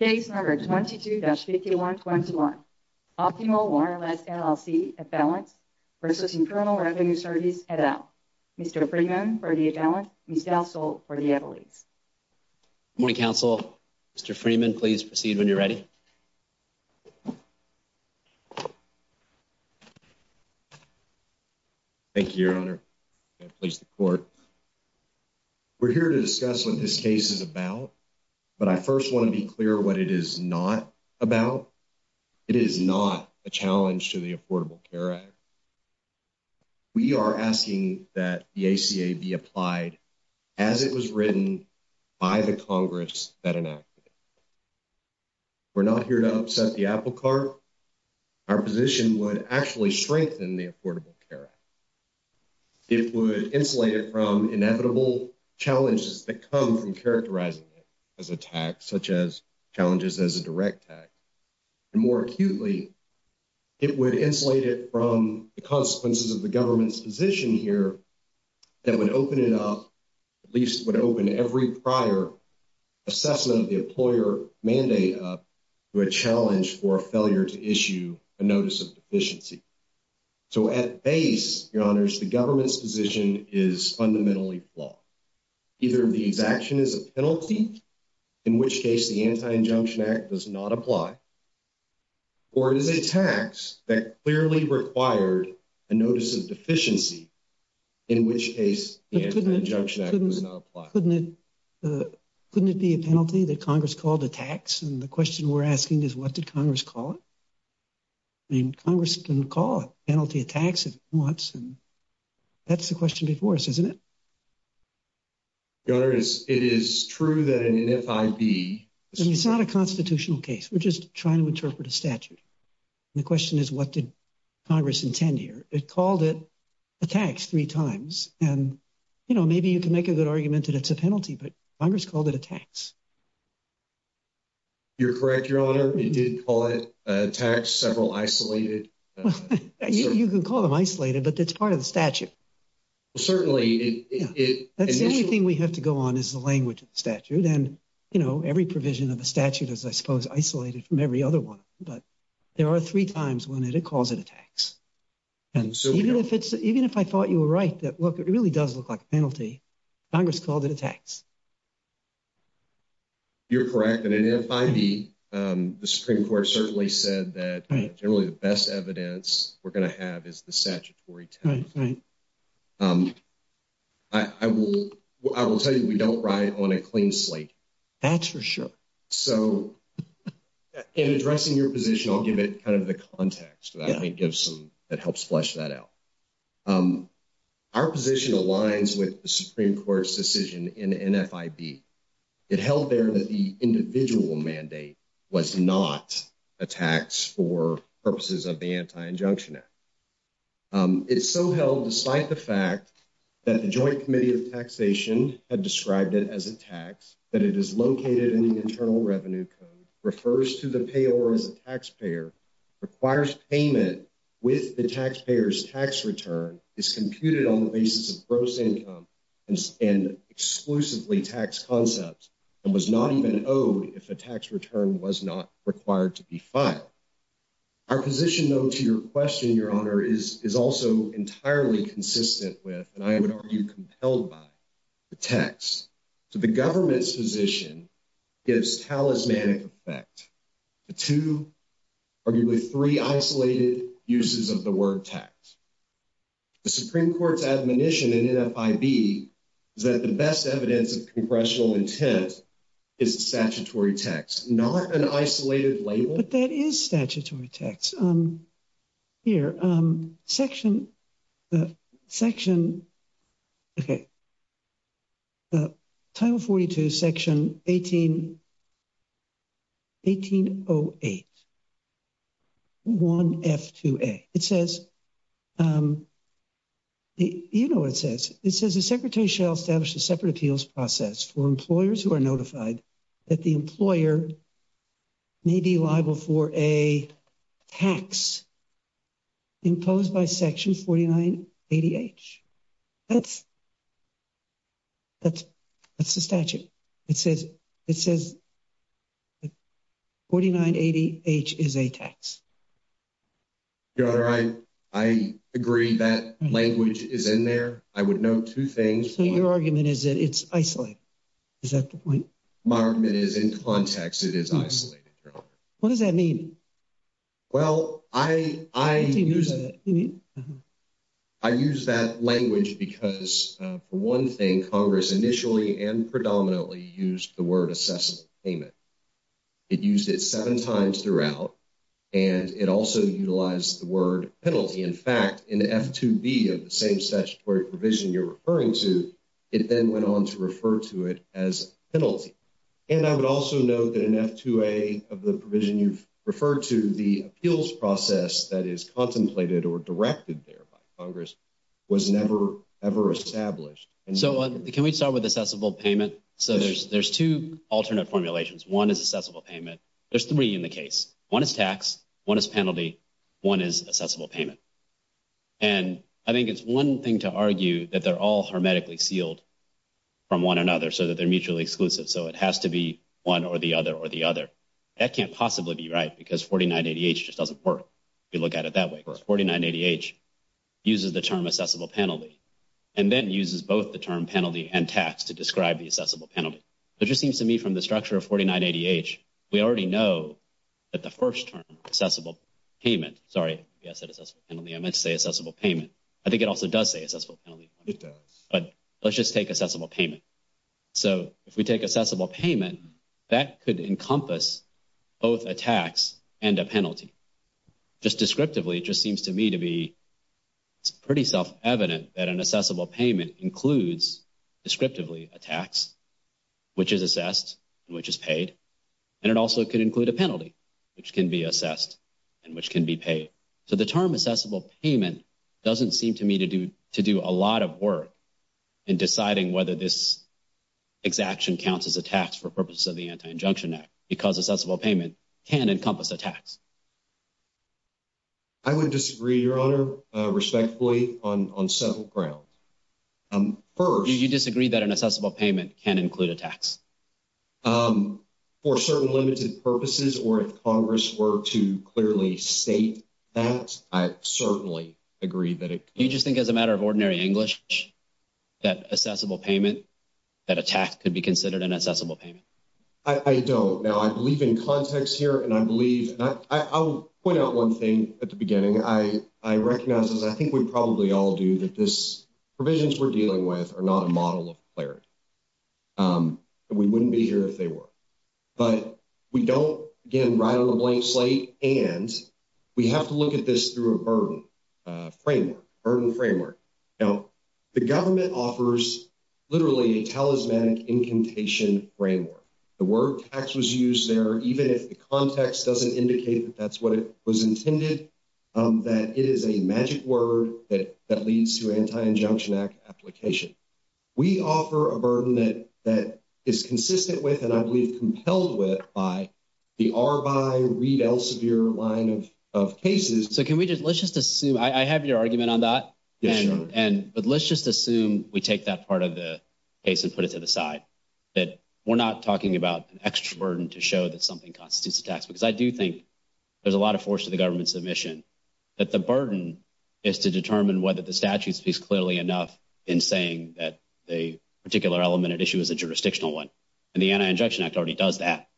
Case No. 22-5121 Optimal Wireless LLC Avalance v. Internal Revenue Service et al. Mr. Freeman for the Avalance, Ms. Gassel for the Avalanche. Good morning, counsel. Mr. Freeman, please proceed when you're ready. Thank you, Mr. Chairman. Please report. We're here to discuss what this case is about, but I first want to be clear what it is not about. It is not a challenge to the Affordable Care Act. We are asking that the ACA be applied as it was written by the Congress that enacted it. We're not here to upset the apple cart. Our position would actually strengthen the Affordable Care Act. It would insulate it from inevitable challenges that come from characterizing it as a tax, such as challenges as a direct tax. And more acutely, it would insulate it from the consequences of the government's position here that would open it up, at least would open every prior assessment of the employer mandate up to a challenge for a failure to issue a notice of deficiency. So at base, your honors, the government's position is fundamentally flawed. Either the exaction is a penalty, in which case the Anti-Injunction Act does not apply, or it is a tax that clearly required a notice of deficiency, in which case the Anti-Injunction Act does not apply. Couldn't it be a penalty that Congress called a tax? And the question we're asking is, what did Congress call it? I mean, Congress can call a penalty a tax if it wants, and that's the question before us, isn't it? Your honors, it is true that an NIFIB… I mean, it's not a constitutional case. We're just trying to interpret a statute. And the question is, what did Congress intend here? It called it a tax three times. And, you know, maybe you can make a good argument that it's a penalty, but Congress called it a tax. You're correct, your honor. It did call it a tax, several isolated… You can call them isolated, but it's part of the statute. Certainly, it… That's the only thing we have to go on is the language of the statute. And, you know, every provision of the statute is, I suppose, isolated from every other one. But there are three times when it calls it a tax. And so… Even if I thought you were right that, look, it really does look like a penalty, Congress called it a tax. You're correct. An NIFIB, the Supreme Court certainly said that generally the best evidence we're going to have is the statutory tax. Right, right. I will tell you, we don't ride on a clean slate. That's for sure. So, in addressing your position, I'll give it kind of the context that helps flesh that out. Our position aligns with the Supreme Court's decision in NFIB. It held there that the individual mandate was not a tax for purposes of the Anti-Injunction Act. It so held, despite the fact that the Joint Committee of Taxation had described it as a tax, that it is located in the Internal Revenue Code, refers to the payor as a taxpayer, requires payment with the taxpayer's tax return, is computed on the basis of gross income, and exclusively tax concepts, and was not even owed if a tax return was not required to be filed. Our position, though, to your question, Your Honor, is also entirely consistent with, and I would argue compelled by, the tax. So, the government's position gives talismanic effect to arguably three isolated uses of the word tax. The Supreme Court's admonition in NFIB is that the best evidence of congressional intent is the statutory tax, not an isolated label. But that is statutory tax. Here, section, section, okay. Title 42, section 1808, 1F2A. It says, you know what it says. It says the secretary shall establish a separate appeals process for employers who are notified that the employer may be liable for a tax imposed by section 4980H. That's, that's, that's the statute. It says, it says 4980H is a tax. Your Honor, I, I agree that language is in there. I would note two things. So, your argument is that it's isolated. Is that the point? My argument is in context, it is isolated, Your Honor. What does that mean? Well, I, I use it. I use that language because, for one thing, Congress initially and predominantly used the word assessment payment. It used it seven times throughout, and it also utilized the word penalty. In fact, in F2B of the same statutory provision you're referring to, it then went on to refer to it as penalty. And I would also note that in F2A of the provision you've referred to, the appeals process that is contemplated or directed there by Congress was never, ever established. So, can we start with assessable payment? So, there's, there's two alternate formulations. One is assessable payment. There's three in the case. One is tax. One is penalty. One is assessable payment. And I think it's one thing to argue that they're all hermetically sealed from one another so that they're mutually exclusive. So, it has to be one or the other or the other. That can't possibly be right because 4980H just doesn't work if you look at it that way. 4980H uses the term assessable penalty and then uses both the term penalty and tax to describe the assessable penalty. It just seems to me from the structure of 4980H, we already know that the first term, assessable payment, sorry, I said assessable penalty. I meant to say assessable payment. I think it also does say assessable penalty. It does. But let's just take assessable payment. So, if we take assessable payment, that could encompass both a tax and a penalty. Just descriptively, it just seems to me to be pretty self-evident that an assessable payment includes descriptively a tax, which is assessed, which is paid, and it also could include a penalty, which can be assessed and which can be paid. So, the term assessable payment doesn't seem to me to do a lot of work in deciding whether this exaction counts as a tax for purposes of the I would disagree, Your Honor, respectfully, on several grounds. First. You disagree that an assessable payment can include a tax? For certain limited purposes or if Congress were to clearly state that, I certainly agree that it could. You just think as a matter of ordinary English that assessable payment, that a tax could be considered an assessable payment? I don't. Now, I believe in context here, and I believe, and I will point out one thing at the beginning. I recognize, as I think we probably all do, that these provisions we're dealing with are not a model of clarity. We wouldn't be here if they were. But we don't, again, ride on a blank slate, and we have to look at this through a burden framework, a burden framework. Now, the government offers literally a talismanic incantation framework. The word tax was used there. Even if the context doesn't indicate that that's what it was intended, that it is a magic word that leads to anti-injunction application. We offer a burden that is consistent with and I believe compelled with by the R by Reed Elsevier line of cases. So can we just let's just assume I have your argument on that. But let's just assume we take that part of the case and put it to the side. That we're not talking about an extra burden to show that something constitutes a tax. Because I do think there's a lot of force to the government's submission. That the burden is to determine whether the statute speaks clearly enough in saying that a particular element at issue is a jurisdictional one. And the Anti-Injection Act already does that.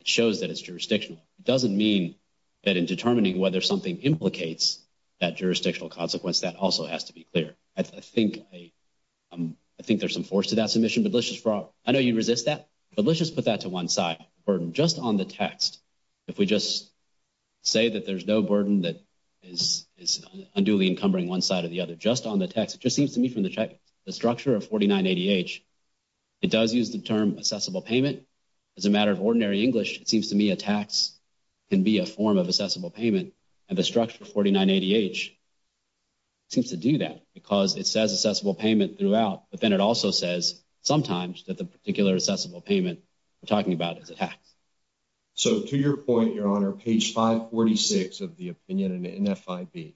It shows that it's jurisdictional. It doesn't mean that in determining whether something implicates that jurisdictional consequence, that also has to be clear. I think there's some force to that submission. I know you resist that, but let's just put that to one side. Burden just on the text. If we just say that there's no burden that is unduly encumbering one side or the other. Just on the text. It just seems to me from the structure of 4980H, it does use the term accessible payment. As a matter of ordinary English, it seems to me a tax can be a form of accessible payment. And the structure of 4980H seems to do that. Because it says accessible payment throughout. But then it also says sometimes that the particular accessible payment we're talking about is a tax. So to your point, Your Honor, page 546 of the opinion in NF5B.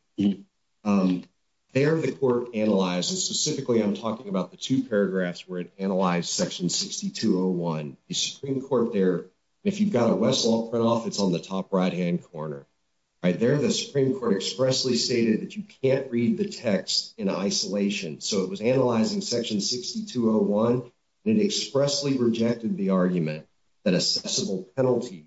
There the court analyzes. Specifically, I'm talking about the two paragraphs where it analyzed section 6201. The Supreme Court there, if you've got a Westlaw print off, it's on the top right-hand corner. There the Supreme Court expressly stated that you can't read the text in isolation. So it was analyzing section 6201. And it expressly rejected the argument that accessible penalties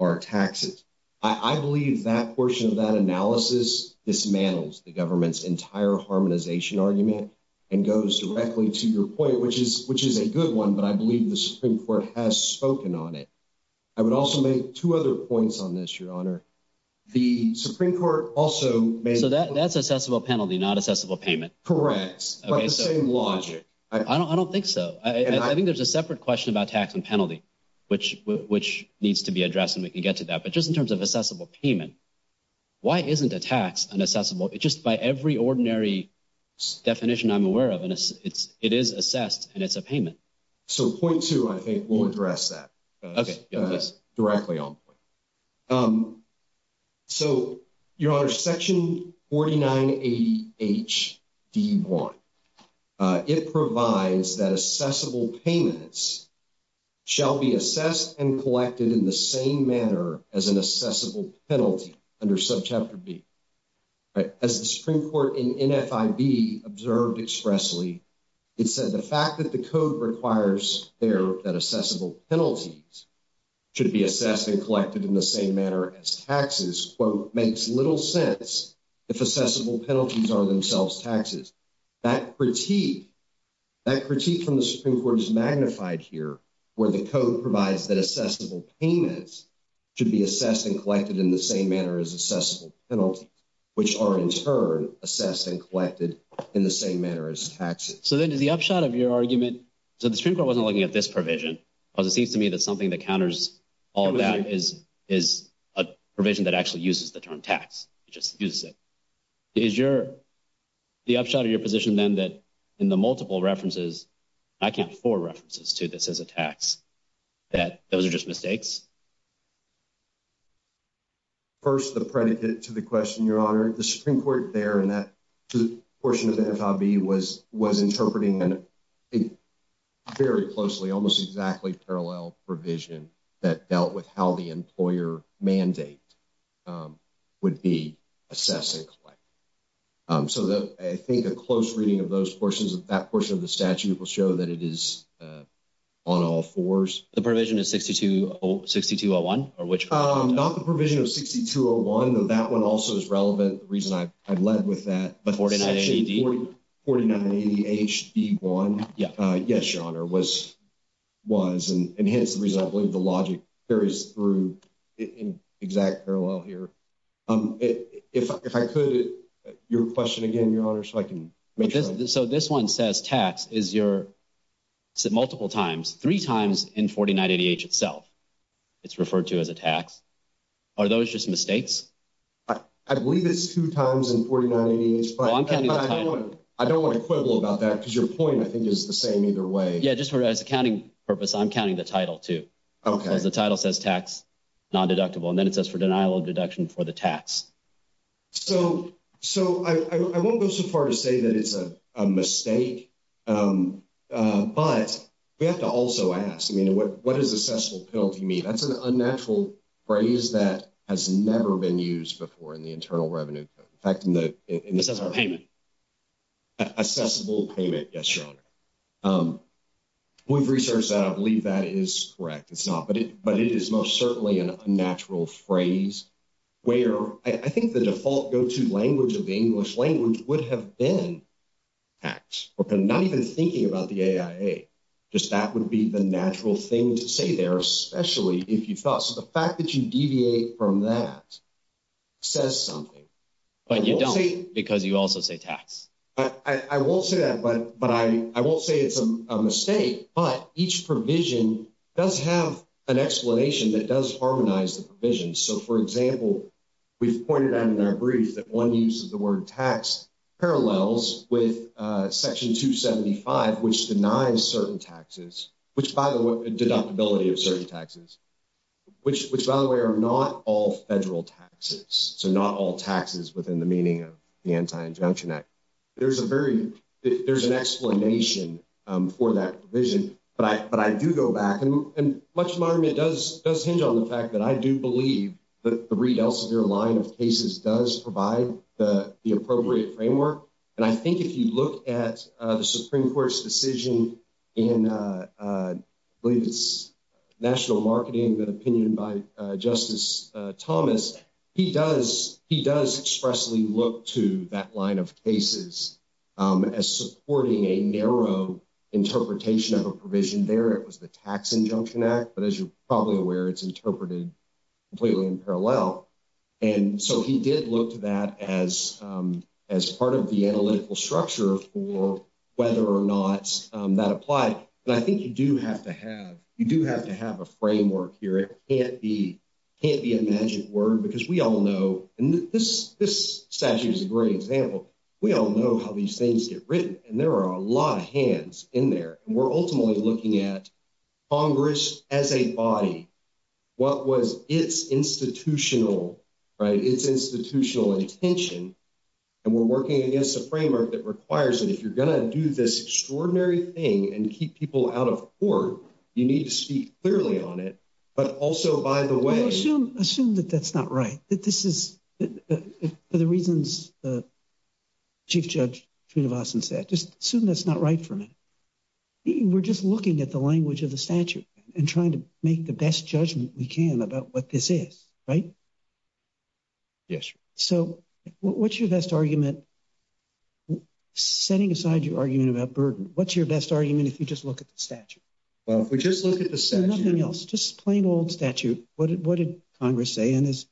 are taxes. I believe that portion of that analysis dismantles the government's entire harmonization argument. And goes directly to your point, which is a good one. But I believe the Supreme Court has spoken on it. I would also make two other points on this, Your Honor. The Supreme Court also made... So that's accessible penalty, not accessible payment. Correct. But the same logic. I don't think so. I think there's a separate question about tax and penalty. Which needs to be addressed and we can get to that. But just in terms of accessible payment, why isn't a tax an accessible... Just by every ordinary definition I'm aware of, it is assessed and it's a payment. So point two, I think, will address that. Okay. Directly on point. So, Your Honor, section 49A.H.D.1. It provides that accessible payments shall be assessed and collected in the same manner as an accessible penalty under subchapter B. As the Supreme Court in NFIB observed expressly, it said the fact that the code requires there that accessible penalties should be assessed and collected in the same manner as taxes, quote, makes little sense if accessible penalties are themselves taxes. That critique from the Supreme Court is magnified here where the code provides that accessible payments should be assessed and collected in the same manner as accessible penalties, which are in turn assessed and collected in the same manner as taxes. So then is the upshot of your argument... So the Supreme Court wasn't looking at this provision because it seems to me that something that counters all that is a provision that actually uses the term tax. It just uses it. Is your... The upshot of your position then that in the multiple references, I count four references to this as a tax, that those are just mistakes? First, the predicate to the question, Your Honor. The Supreme Court there in that portion of the NFIB was interpreting a very closely, almost exactly parallel provision that dealt with how the employer mandate would be assessed and collected. So I think a close reading of those portions of that portion of the statute will show that it is on all fours. The provision is 6201? Not the provision of 6201, though that one also is relevant. The reason I've led with that... But 49ADD? 49ADHD1. Yes, Your Honor, was and hence the reason I believe the logic carries through in exact parallel here. If I could, your question again, Your Honor, so I can make sure... So this one says tax is your multiple times, three times in 49ADH itself. It's referred to as a tax. Are those just mistakes? I believe it's two times in 49ADH. Well, I'm counting the title. I don't want to quibble about that because your point, I think, is the same either way. Yeah, just as a counting purpose, I'm counting the title too. Okay. Because the title says tax, non-deductible, and then it says for denial of deduction for the tax. So I won't go so far to say that it's a mistake, but we have to also ask, I mean, what does assessable penalty mean? That's an unnatural phrase that has never been used before in the Internal Revenue Code. In fact, in the... Assessable payment. Assessable payment, yes, Your Honor. We've researched that. I believe that is correct. It's not, but it is most certainly an unnatural phrase where I think the default go-to language of the English language would have been tax, or not even thinking about the AIA. Just that would be the natural thing to say there, especially if you thought, so the fact that you deviate from that says something. But you don't because you also say tax. I won't say that, but I won't say it's a mistake, but each provision does have an explanation that does harmonize the provision. So, for example, we've pointed out in our brief that one use of the word tax parallels with Section 275, which denies certain taxes, which, by the way, deductibility of certain taxes, which, by the way, are not all federal taxes. So not all taxes within the meaning of the Anti-Injunction Act. There's a very... There's an explanation for that provision, but I do go back, and much of my argument does hinge on the fact that I do believe that the Reid-Elsevier line of cases does provide the appropriate framework, and I think if you look at the Supreme Court's decision in, I believe it's National Marketing, an opinion by Justice Thomas, he does expressly look to that line of cases as supporting a narrow interpretation of a provision there. It was the Tax Injunction Act, but as you're probably aware, it's interpreted completely in parallel. And so he did look to that as part of the analytical structure for whether or not that applied. And I think you do have to have a framework here. It can't be a magic word because we all know, and this statute is a great example, we all know how these things get written, and there are a lot of hands in there. And we're ultimately looking at Congress as a body, what was its institutional, right, its institutional intention, and we're working against a framework that requires that if you're going to do this extraordinary thing and keep people out of court, you need to speak clearly on it, but also by the way... For the reasons Chief Judge Srinivasan said, just assume that's not right for a minute. We're just looking at the language of the statute and trying to make the best judgment we can about what this is, right? Yes. So what's your best argument, setting aside your argument about burden, what's your best argument if you just look at the statute? Well, if we just look at the statute... Just plain old statute. What did Congress say? And as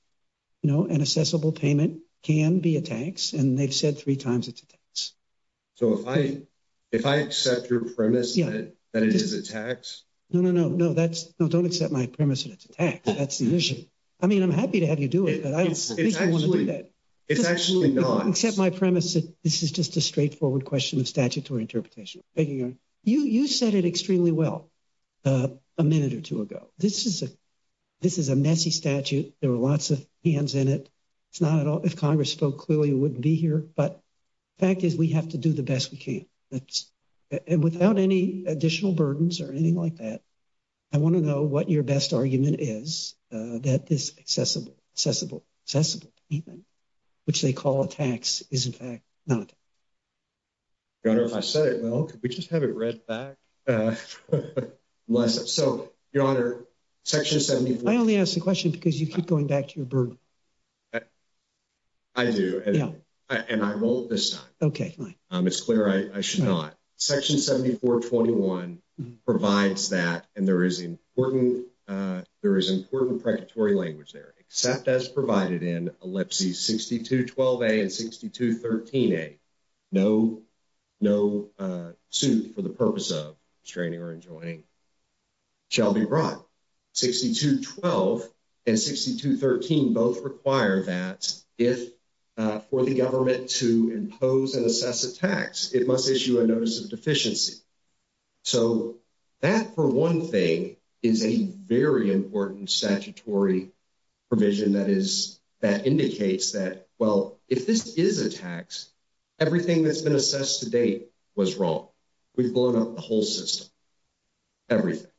you know, an assessable payment can be a tax, and they've said three times it's a tax. So if I accept your premise that it is a tax... No, no, no. No, don't accept my premise that it's a tax. That's the issue. I mean, I'm happy to have you do it, but I don't think I want to do that. It's actually not. Accept my premise that this is just a straightforward question of statutory interpretation. You said it extremely well a minute or two ago. This is a messy statute. There were lots of hands in it. It's not at all... If Congress spoke clearly, we wouldn't be here. But the fact is we have to do the best we can. And without any additional burdens or anything like that, I want to know what your best argument is that this assessable payment, which they call a tax, is in fact not a tax. Your Honor, if I said it well, could we just have it read back? So, Your Honor, Section 74... I only ask the question because you keep going back to your burden. I do, and I won't this time. Okay, fine. It's clear I should not. Section 7421 provides that, and there is important... There is important predatory language there. Except as provided in ellipses 6212A and 6213A, no suit for the purpose of restraining or enjoining shall be brought. 6212 and 6213 both require that if... For the government to impose and assess a tax, it must issue a notice of deficiency. So that, for one thing, is a very important statutory provision that indicates that, well, if this is a tax, everything that's been assessed to date was wrong. We've blown up the whole system. Everything.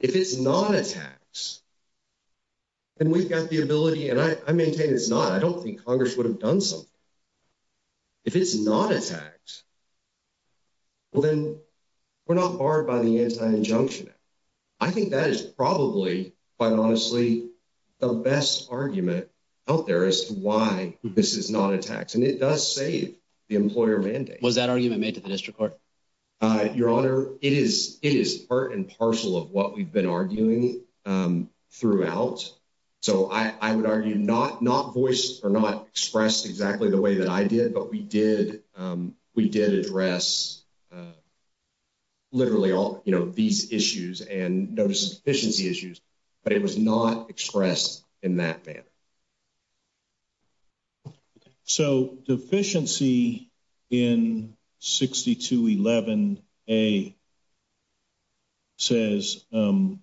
If it's not a tax, then we've got the ability... And I maintain it's not. I don't think Congress would have done something. If it's not a tax, well, then we're not barred by the anti-injunction act. I think that is probably, quite honestly, the best argument out there as to why this is not a tax. And it does save the employer mandate. Was that argument made to the district court? Your Honor, it is part and parcel of what we've been arguing throughout. So I would argue not voiced or not expressed exactly the way that I did, but we did address literally all these issues and notice of deficiency issues. But it was not expressed in that manner. So deficiency in 6211A says that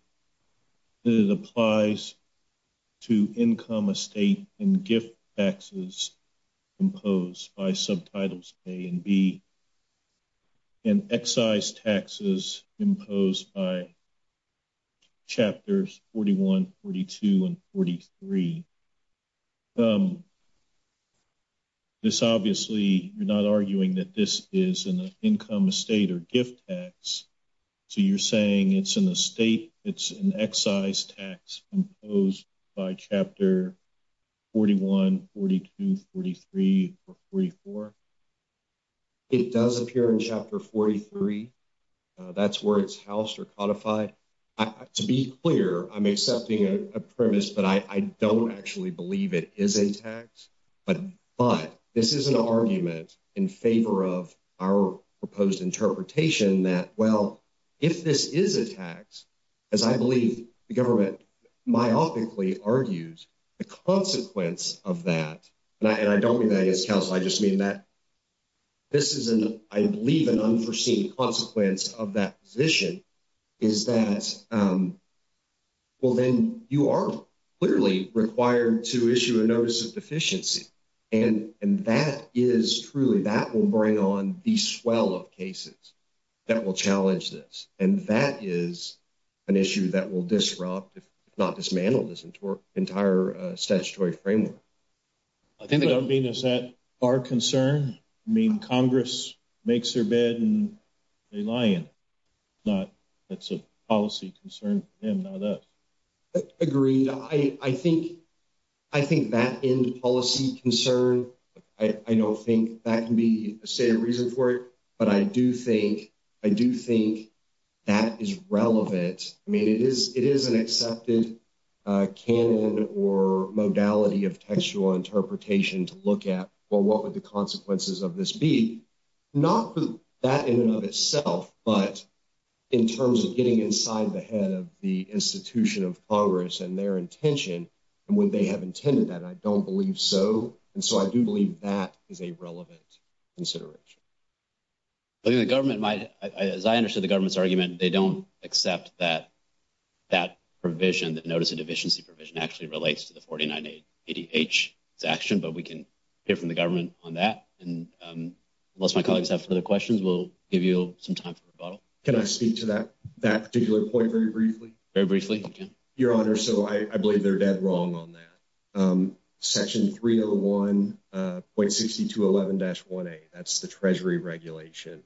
it applies to income, estate, and gift taxes imposed by subtitles A and B. And excise taxes imposed by chapters 41, 42, and 43. This obviously, you're not arguing that this is an income, estate, or gift tax. So you're saying it's an estate, it's an excise tax imposed by chapter 41, 42, 43, or 44? It does appear in chapter 43. That's where it's housed or codified. To be clear, I'm accepting a premise that I don't actually believe it is a tax. But this is an argument in favor of our proposed interpretation that, well, if this is a tax, as I believe the government myopically argues, the consequence of that, and I don't mean that against counsel, I just mean that this is, I believe, an unforeseen consequence of that position, is that, well, then you are clearly required to issue a notice of deficiency. And that is truly, that will bring on the swell of cases that will challenge this. And that is an issue that will disrupt, if not dismantle, this entire statutory framework. I think what I mean is that our concern, I mean, Congress makes their bed and they lie in it. It's a policy concern to them, not us. Agreed. I think that end policy concern, I don't think that can be a stated reason for it. But I do think that is relevant. I mean, it is an accepted canon or modality of textual interpretation to look at, well, what would the consequences of this be? Not for that in and of itself, but in terms of getting inside the head of the institution of Congress and their intention, and would they have intended that? I don't believe so. And so I do believe that is a relevant consideration. I think the government might, as I understood the government's argument, they don't accept that that provision, that notice of deficiency provision, actually relates to the 49 ADH section. But we can hear from the government on that. And unless my colleagues have further questions, we'll give you some time for rebuttal. Can I speak to that particular point very briefly? Very briefly. Your Honor, so I believe they're dead wrong on that. Section 301.6211-1A, that's the Treasury regulation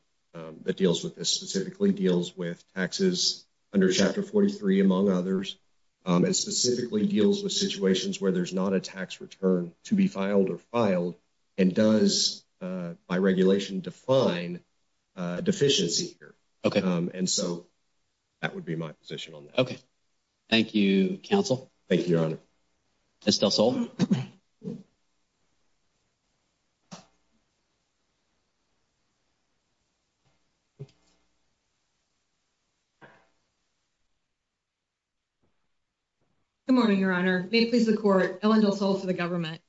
that deals with this, specifically deals with taxes under Chapter 43, among others, and specifically deals with situations where there's not a tax return to be filed or filed, and does, by regulation, define deficiency here. And so that would be my position on that. Okay. Thank you, Counsel. Thank you, Your Honor. Ms. Del Sol. Good morning, Your Honor. May it please the Court, Ellen Del Sol for the government.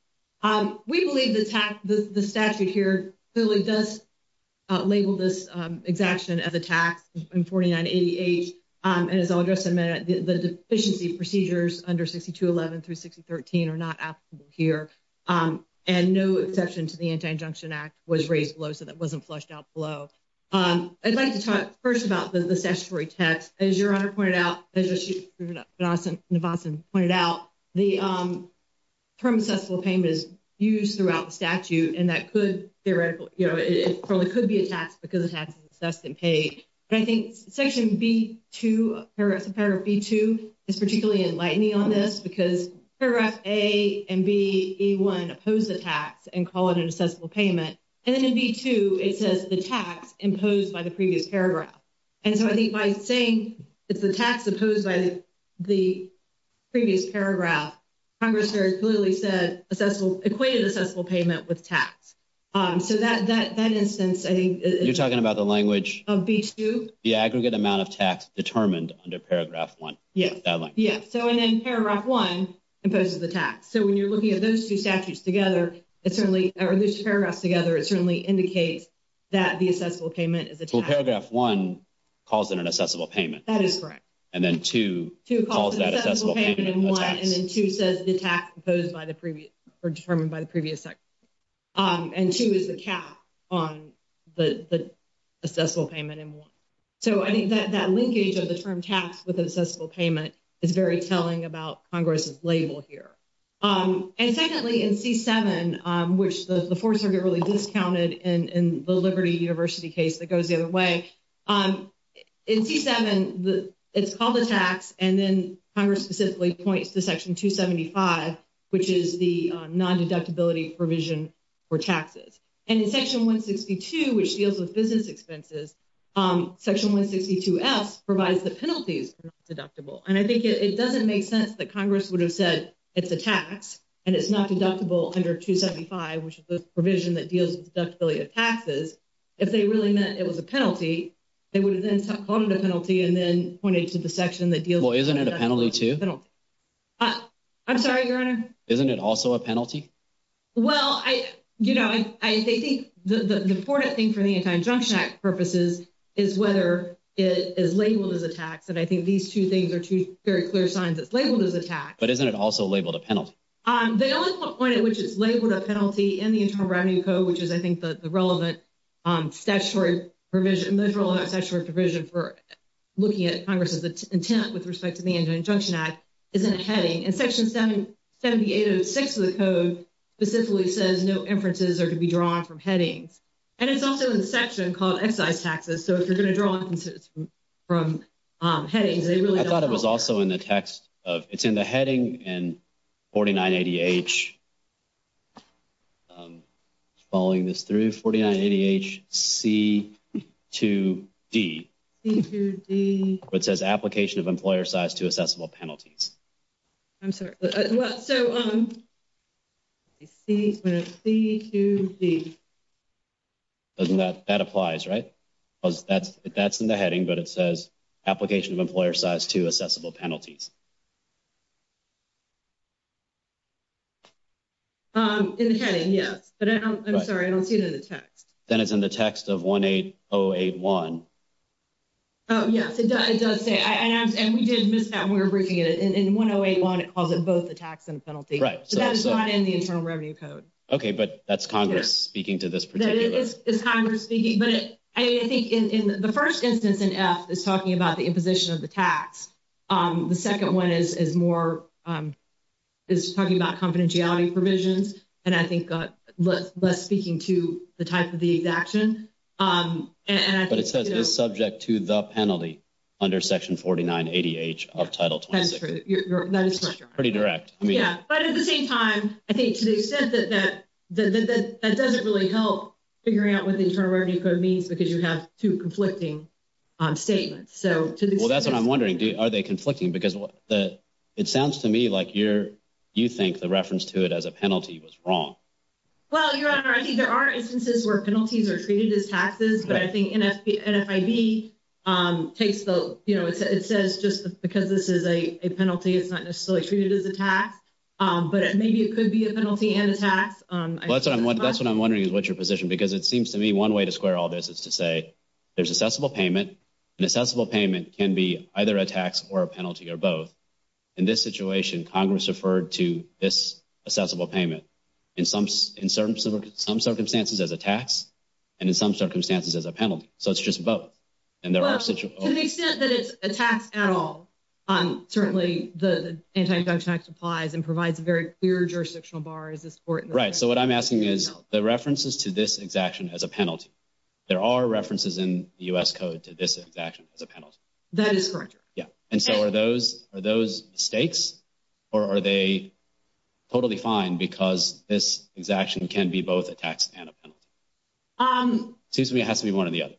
We believe the statute here clearly does label this exaction as a tax in 49 ADH, and as I'll address in a minute, the deficiency procedures under 62.11 through 63.13 are not applicable here. And no exception to the Anti-Injunction Act was raised below, so that wasn't flushed out below. I'd like to talk first about the statutory text. As Your Honor pointed out, as you pointed out, the term accessible payment is used throughout the statute, and that could theoretically, you know, it probably could be a tax because the tax is assessed and paid. But I think Section B2, paragraph B2, is particularly enlightening on this, because paragraph A and B, E1, oppose the tax and call it an accessible payment. And then in B2, it says the tax imposed by the previous paragraph. And so I think by saying it's the tax imposed by the previous paragraph, Congress very clearly said equated accessible payment with tax. So that instance, I think— You're talking about the language— —of B2? The aggregate amount of tax determined under paragraph 1. Yes. So and then paragraph 1 imposes the tax. So when you're looking at those two statutes together, or those two paragraphs together, it certainly indicates that the accessible payment is a tax. So paragraph 1 calls it an accessible payment. That is correct. And then 2 calls that accessible payment a tax. And then 2 says the tax imposed by the previous—or determined by the previous section. And 2 is the cap on the accessible payment in 1. So I think that linkage of the term tax with accessible payment is very telling about Congress's label here. And secondly, in C7, which the Fourth Circuit really discounted in the Liberty University case that goes the other way, in C7, it's called a tax. And then Congress specifically points to Section 275, which is the non-deductibility provision for taxes. And in Section 162, which deals with business expenses, Section 162S provides the penalties for not deductible. And I think it doesn't make sense that Congress would have said it's a tax and it's not deductible under 275, which is the provision that deals with deductibility of taxes. If they really meant it was a penalty, they would have then called it a penalty and then pointed to the section that deals— Well, isn't it a penalty, too? I'm sorry, Your Honor? Isn't it also a penalty? Well, you know, I think the important thing for the Anti-Injunction Act purposes is whether it is labeled as a tax. And I think these two things are two very clear signs it's labeled as a tax. But isn't it also labeled a penalty? The only point at which it's labeled a penalty in the Internal Revenue Code, which is, I think, the relevant statutory provision for looking at Congress's intent with respect to the Anti-Injunction Act, is in a heading. And Section 7806 of the code specifically says no inferences are to be drawn from headings. And it's also in a section called excise taxes. So if you're going to draw inferences from headings, they really don't— I thought it was also in the text of—it's in the heading in 49ADH. Following this through, 49ADH C2D. C2D. Where it says application of employer size to assessable penalties. I'm sorry. Well, so— C2D. That applies, right? That's in the heading, but it says application of employer size to assessable penalties. In the heading, yes. But I'm sorry. I don't see it in the text. Then it's in the text of 18081. Oh, yes. It does say—and we did miss that when we were briefing it. In 1081, it calls it both a tax and a penalty. Right. But that is not in the Internal Revenue Code. Okay. But that's Congress speaking to this particular— It's Congress speaking, but I think in the first instance in F, it's talking about the imposition of the tax. The second one is more—is talking about confidentiality provisions, and I think less speaking to the type of the action. But it says it's subject to the penalty under Section 49ADH of Title 26. That's true. That is correct. Pretty direct. Yeah. But at the same time, I think to the extent that that doesn't really help figuring out what the Internal Revenue Code means because you have two conflicting statements. Well, that's what I'm wondering. Are they conflicting? Because it sounds to me like you think the reference to it as a penalty was wrong. Well, Your Honor, I think there are instances where penalties are treated as taxes. But I think NFIB takes the—you know, it says just because this is a penalty, it's not necessarily treated as a tax. But maybe it could be a penalty and a tax. Well, that's what I'm wondering is what's your position because it seems to me one way to square all this is to say there's assessable payment. An assessable payment can be either a tax or a penalty or both. In this situation, Congress referred to this assessable payment in some circumstances as a tax and in some circumstances as a penalty. So it's just both. Well, to the extent that it's a tax at all, certainly the Anti-Tax Act applies and provides a very clear jurisdictional bar. Right. So what I'm asking is the references to this exaction as a penalty. There are references in the U.S. Code to this exaction as a penalty. That is correct, Your Honor. Yeah. And so are those mistakes or are they totally fine because this exaction can be both a tax and a penalty? It seems to me it has to be one or the other.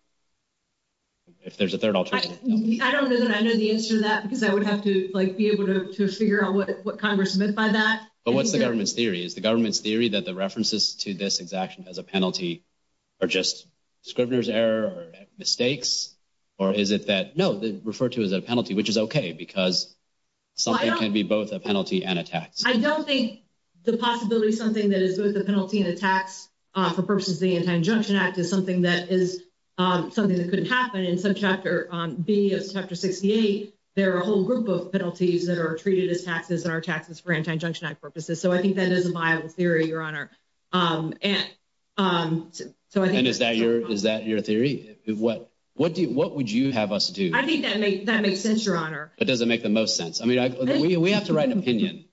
If there's a third alternative. I don't know that I know the answer to that because I would have to, like, be able to figure out what Congress meant by that. But what's the government's theory? Is the government's theory that the references to this exaction as a penalty are just Scrivener's error or mistakes? Or is it that no, they refer to as a penalty, which is OK, because something can be both a penalty and a tax. I don't think the possibility of something that is both a penalty and a tax for purposes of the Anti-Injunction Act is something that is something that couldn't happen. In Subchapter B of Chapter 68, there are a whole group of penalties that are treated as taxes and are taxes for Anti-Injunction Act purposes. So I think that is a viable theory, Your Honor. And is that your theory? What would you have us do? I think that makes sense, Your Honor. But does it make the most sense? I mean, we have to write an opinion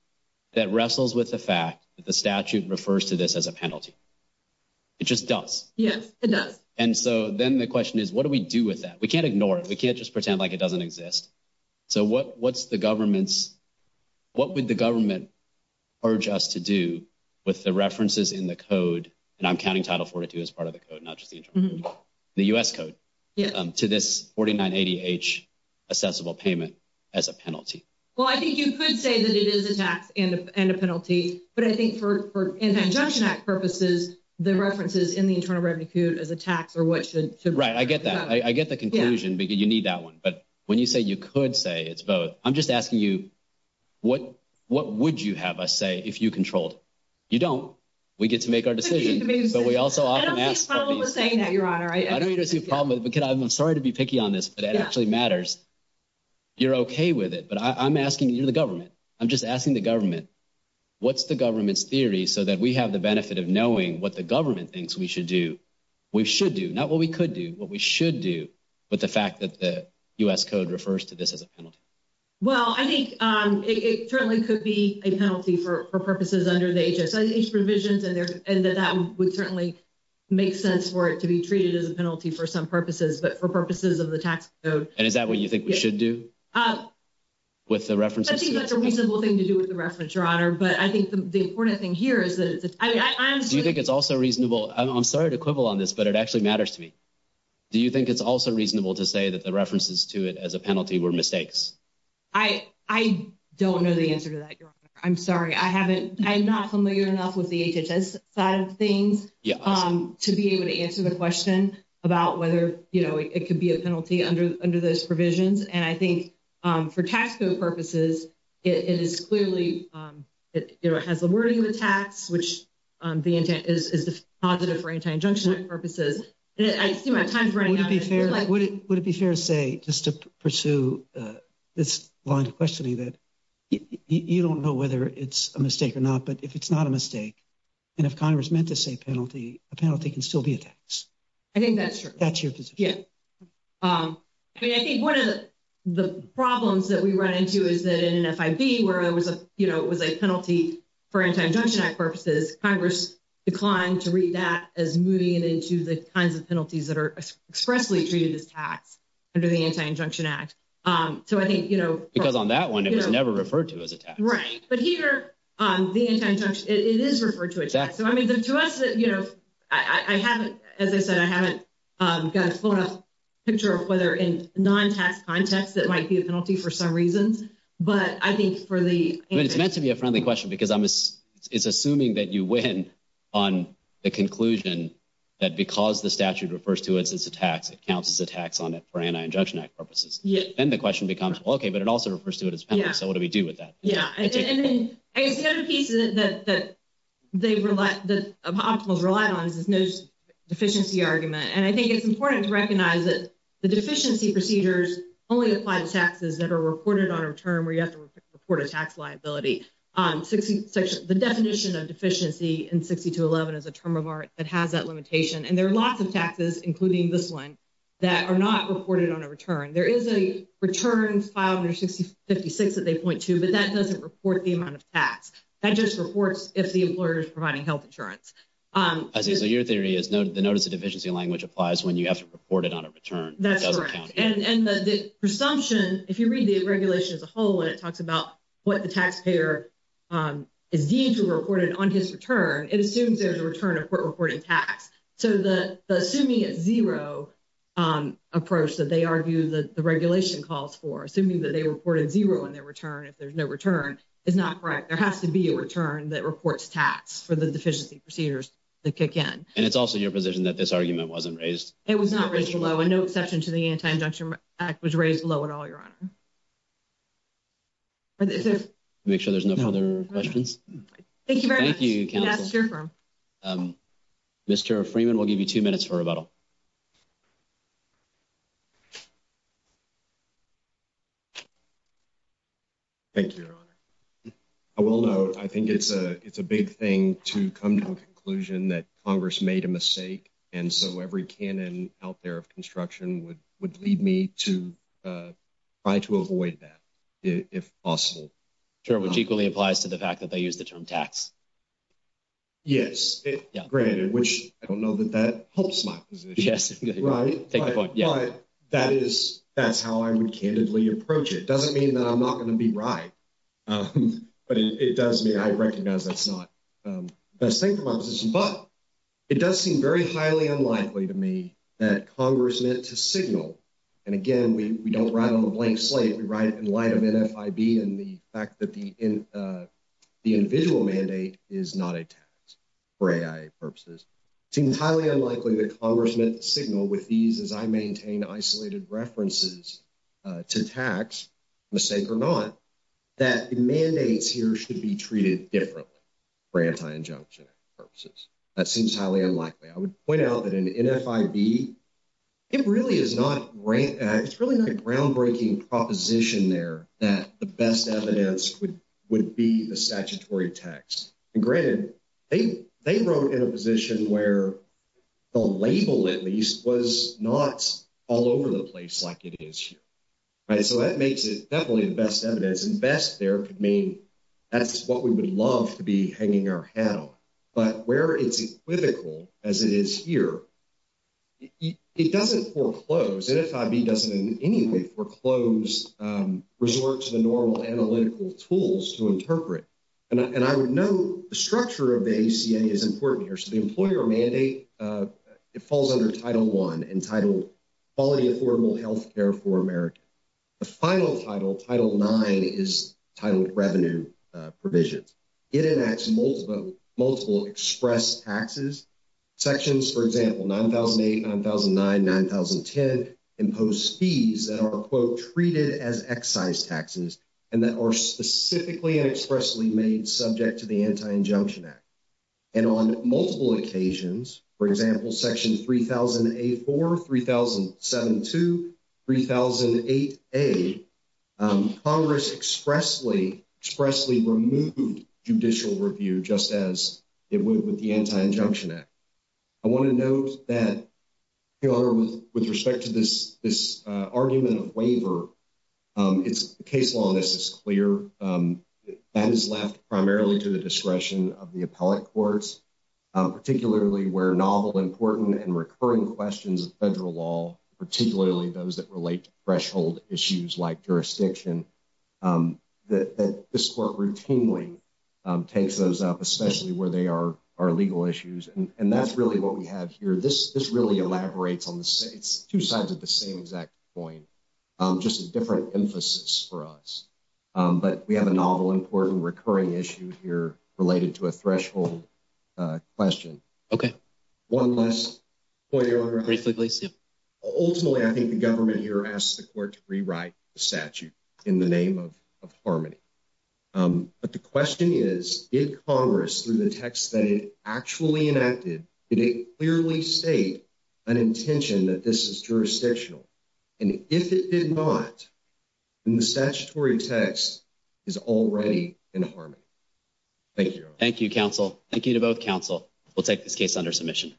that wrestles with the fact that the statute refers to this as a penalty. It just does. Yes, it does. And so then the question is, what do we do with that? We can't ignore it. We can't just pretend like it doesn't exist. So what would the government urge us to do with the references in the code? And I'm counting Title 42 as part of the code, not just the Internal Revenue Code. The U.S. code to this 4980H assessable payment as a penalty. Well, I think you could say that it is a tax and a penalty. But I think for Anti-Injunction Act purposes, the references in the Internal Revenue Code as a tax are what should be referred to as a penalty. Right, I get that. I get the conclusion, but you need that one. But when you say you could say it's both, I'm just asking you, what would you have us say if you controlled? You don't. We get to make our decision. But we also often ask. I don't see a problem with saying that, Your Honor. I don't see a problem with it. I'm sorry to be picky on this, but it actually matters. You're okay with it. But I'm asking you, the government. I'm just asking the government, what's the government's theory so that we have the benefit of knowing what the government thinks we should do? Not what we could do, what we should do. But the fact that the U.S. Code refers to this as a penalty. Well, I think it certainly could be a penalty for purposes under the HSIH provisions. And that would certainly make sense for it to be treated as a penalty for some purposes, but for purposes of the tax code. And is that what you think we should do with the references? I think that's a reasonable thing to do with the reference, Your Honor. But I think the important thing here is that it's a tax. Do you think it's also reasonable? I'm sorry to quibble on this, but it actually matters to me. Do you think it's also reasonable to say that the references to it as a penalty were mistakes? I don't know the answer to that, Your Honor. I'm sorry. I'm not familiar enough with the HHS side of things to be able to answer the question about whether it could be a penalty under those provisions. And I think for tax code purposes, it is clearly, you know, it has the wording of a tax, which is positive for anti-injunction purposes. I see my time is running out. Would it be fair to say, just to pursue this line of questioning, that you don't know whether it's a mistake or not, but if it's not a mistake, and if Congress meant to say penalty, a penalty can still be a tax. I think that's true. That's your position. Yeah. I mean, I think one of the problems that we run into is that in an FIB where it was a penalty for anti-injunction purposes, Congress declined to read that as moving it into the kinds of penalties that are expressly treated as tax under the Anti-Injunction Act. So I think, you know. Because on that one, it was never referred to as a tax. Right. But here, the anti-injunction, it is referred to as a tax. So, I mean, to us, you know, I haven't, as I said, I haven't got a full enough picture of whether in non-tax context that might be a penalty for some reasons. But I think for the. I mean, it's meant to be a friendly question because it's assuming that you win on the conclusion that because the statute refers to it as a tax, it counts as a tax on it for Anti-Injunction Act purposes. Then the question becomes, okay, but it also refers to it as a penalty. So what do we do with that? Yeah. I guess the other piece that Optimal's relied on is this deficiency argument. And I think it's important to recognize that the deficiency procedures only apply to taxes that are reported on a return where you have to report a tax liability. The definition of deficiency in 6211 is a term of art that has that limitation. And there are lots of taxes, including this one, that are not reported on a return. There is a return filed under 656 that they point to, but that doesn't report the amount of tax. That just reports if the employer is providing health insurance. I see. So your theory is the notice of deficiency language applies when you have to report it on a return. That's correct. And the presumption, if you read the regulation as a whole, and it talks about what the taxpayer is deemed to have reported on his return, it assumes there's a return of court reporting tax. So the assuming it's zero approach that they argue that the regulation calls for, assuming that they reported zero in their return if there's no return, is not correct. There has to be a return that reports tax for the deficiency procedures that kick in. And it's also your position that this argument wasn't raised? It was not raised below, and no exception to the Anti-Injunction Act was raised below at all, Your Honor. Make sure there's no further questions. Thank you very much. Thank you, counsel. Mr. Freeman, we'll give you two minutes for rebuttal. Thank you, Your Honor. I will note, I think it's a big thing to come to a conclusion that Congress made a mistake, and so every canon out there of construction would lead me to try to avoid that if possible. Sure, which equally applies to the fact that they use the term tax. Yes, granted, which I don't know that that helps my position. Yes. Right? Take my point, yeah. But that is, that's how I would candidly approach it. It doesn't mean that I'm not going to be right, but it does mean I recognize that's not the best thing for my position. But it does seem very highly unlikely to me that Congress meant to signal, and again, we don't write on a blank slate. We write in light of NFIB and the fact that the individual mandate is not a tax for AI purposes. It seems highly unlikely that Congress meant to signal with these, as I maintain isolated references to tax, mistake or not, that mandates here should be treated differently for Anti-Injunction purposes. That seems highly unlikely. I would point out that in NFIB, it really is not, it's really not a groundbreaking proposition there that the best evidence would be the statutory tax. And granted, they wrote in a position where the label, at least, was not all over the place like it is here. Right? So that makes it definitely the best evidence, and best there could mean that's what we would love to be hanging our hat on. But where it's equivocal, as it is here, it doesn't foreclose. NFIB doesn't in any way foreclose, resort to the normal analytical tools to interpret. And I would note the structure of the ACA is important here. So the employer mandate, it falls under Title I entitled Quality Affordable Health Care for America. The final title, Title IX, is titled Revenue Provisions. It enacts multiple express taxes. Sections, for example, 9008, 9009, 9010 impose fees that are, quote, treated as excise taxes and that are specifically and expressly made subject to the Anti-Injunction Act. And on multiple occasions, for example, Section 3008-4, 3007-2, 3008-A, Congress expressly, expressly removed judicial review just as it would with the Anti-Injunction Act. I want to note that with respect to this argument of waiver, the case law on this is clear. That is left primarily to the discretion of the appellate courts, particularly where novel, important, and recurring questions of federal law, particularly those that relate to threshold issues like jurisdiction, that this court routinely takes those up, especially where they are legal issues. And that's really what we have here. This really elaborates on the two sides of the same exact point, just a different emphasis for us. But we have a novel, important, recurring issue here related to a threshold question. One last point. Briefly, please. Ultimately, I think the government here asks the court to rewrite the statute in the name of harmony. But the question is, did Congress, through the text that it actually enacted, did it clearly state an intention that this is jurisdictional? And if it did not, then the statutory text is already in harmony. Thank you. Thank you, counsel. Thank you to both counsel. We'll take this case under submission.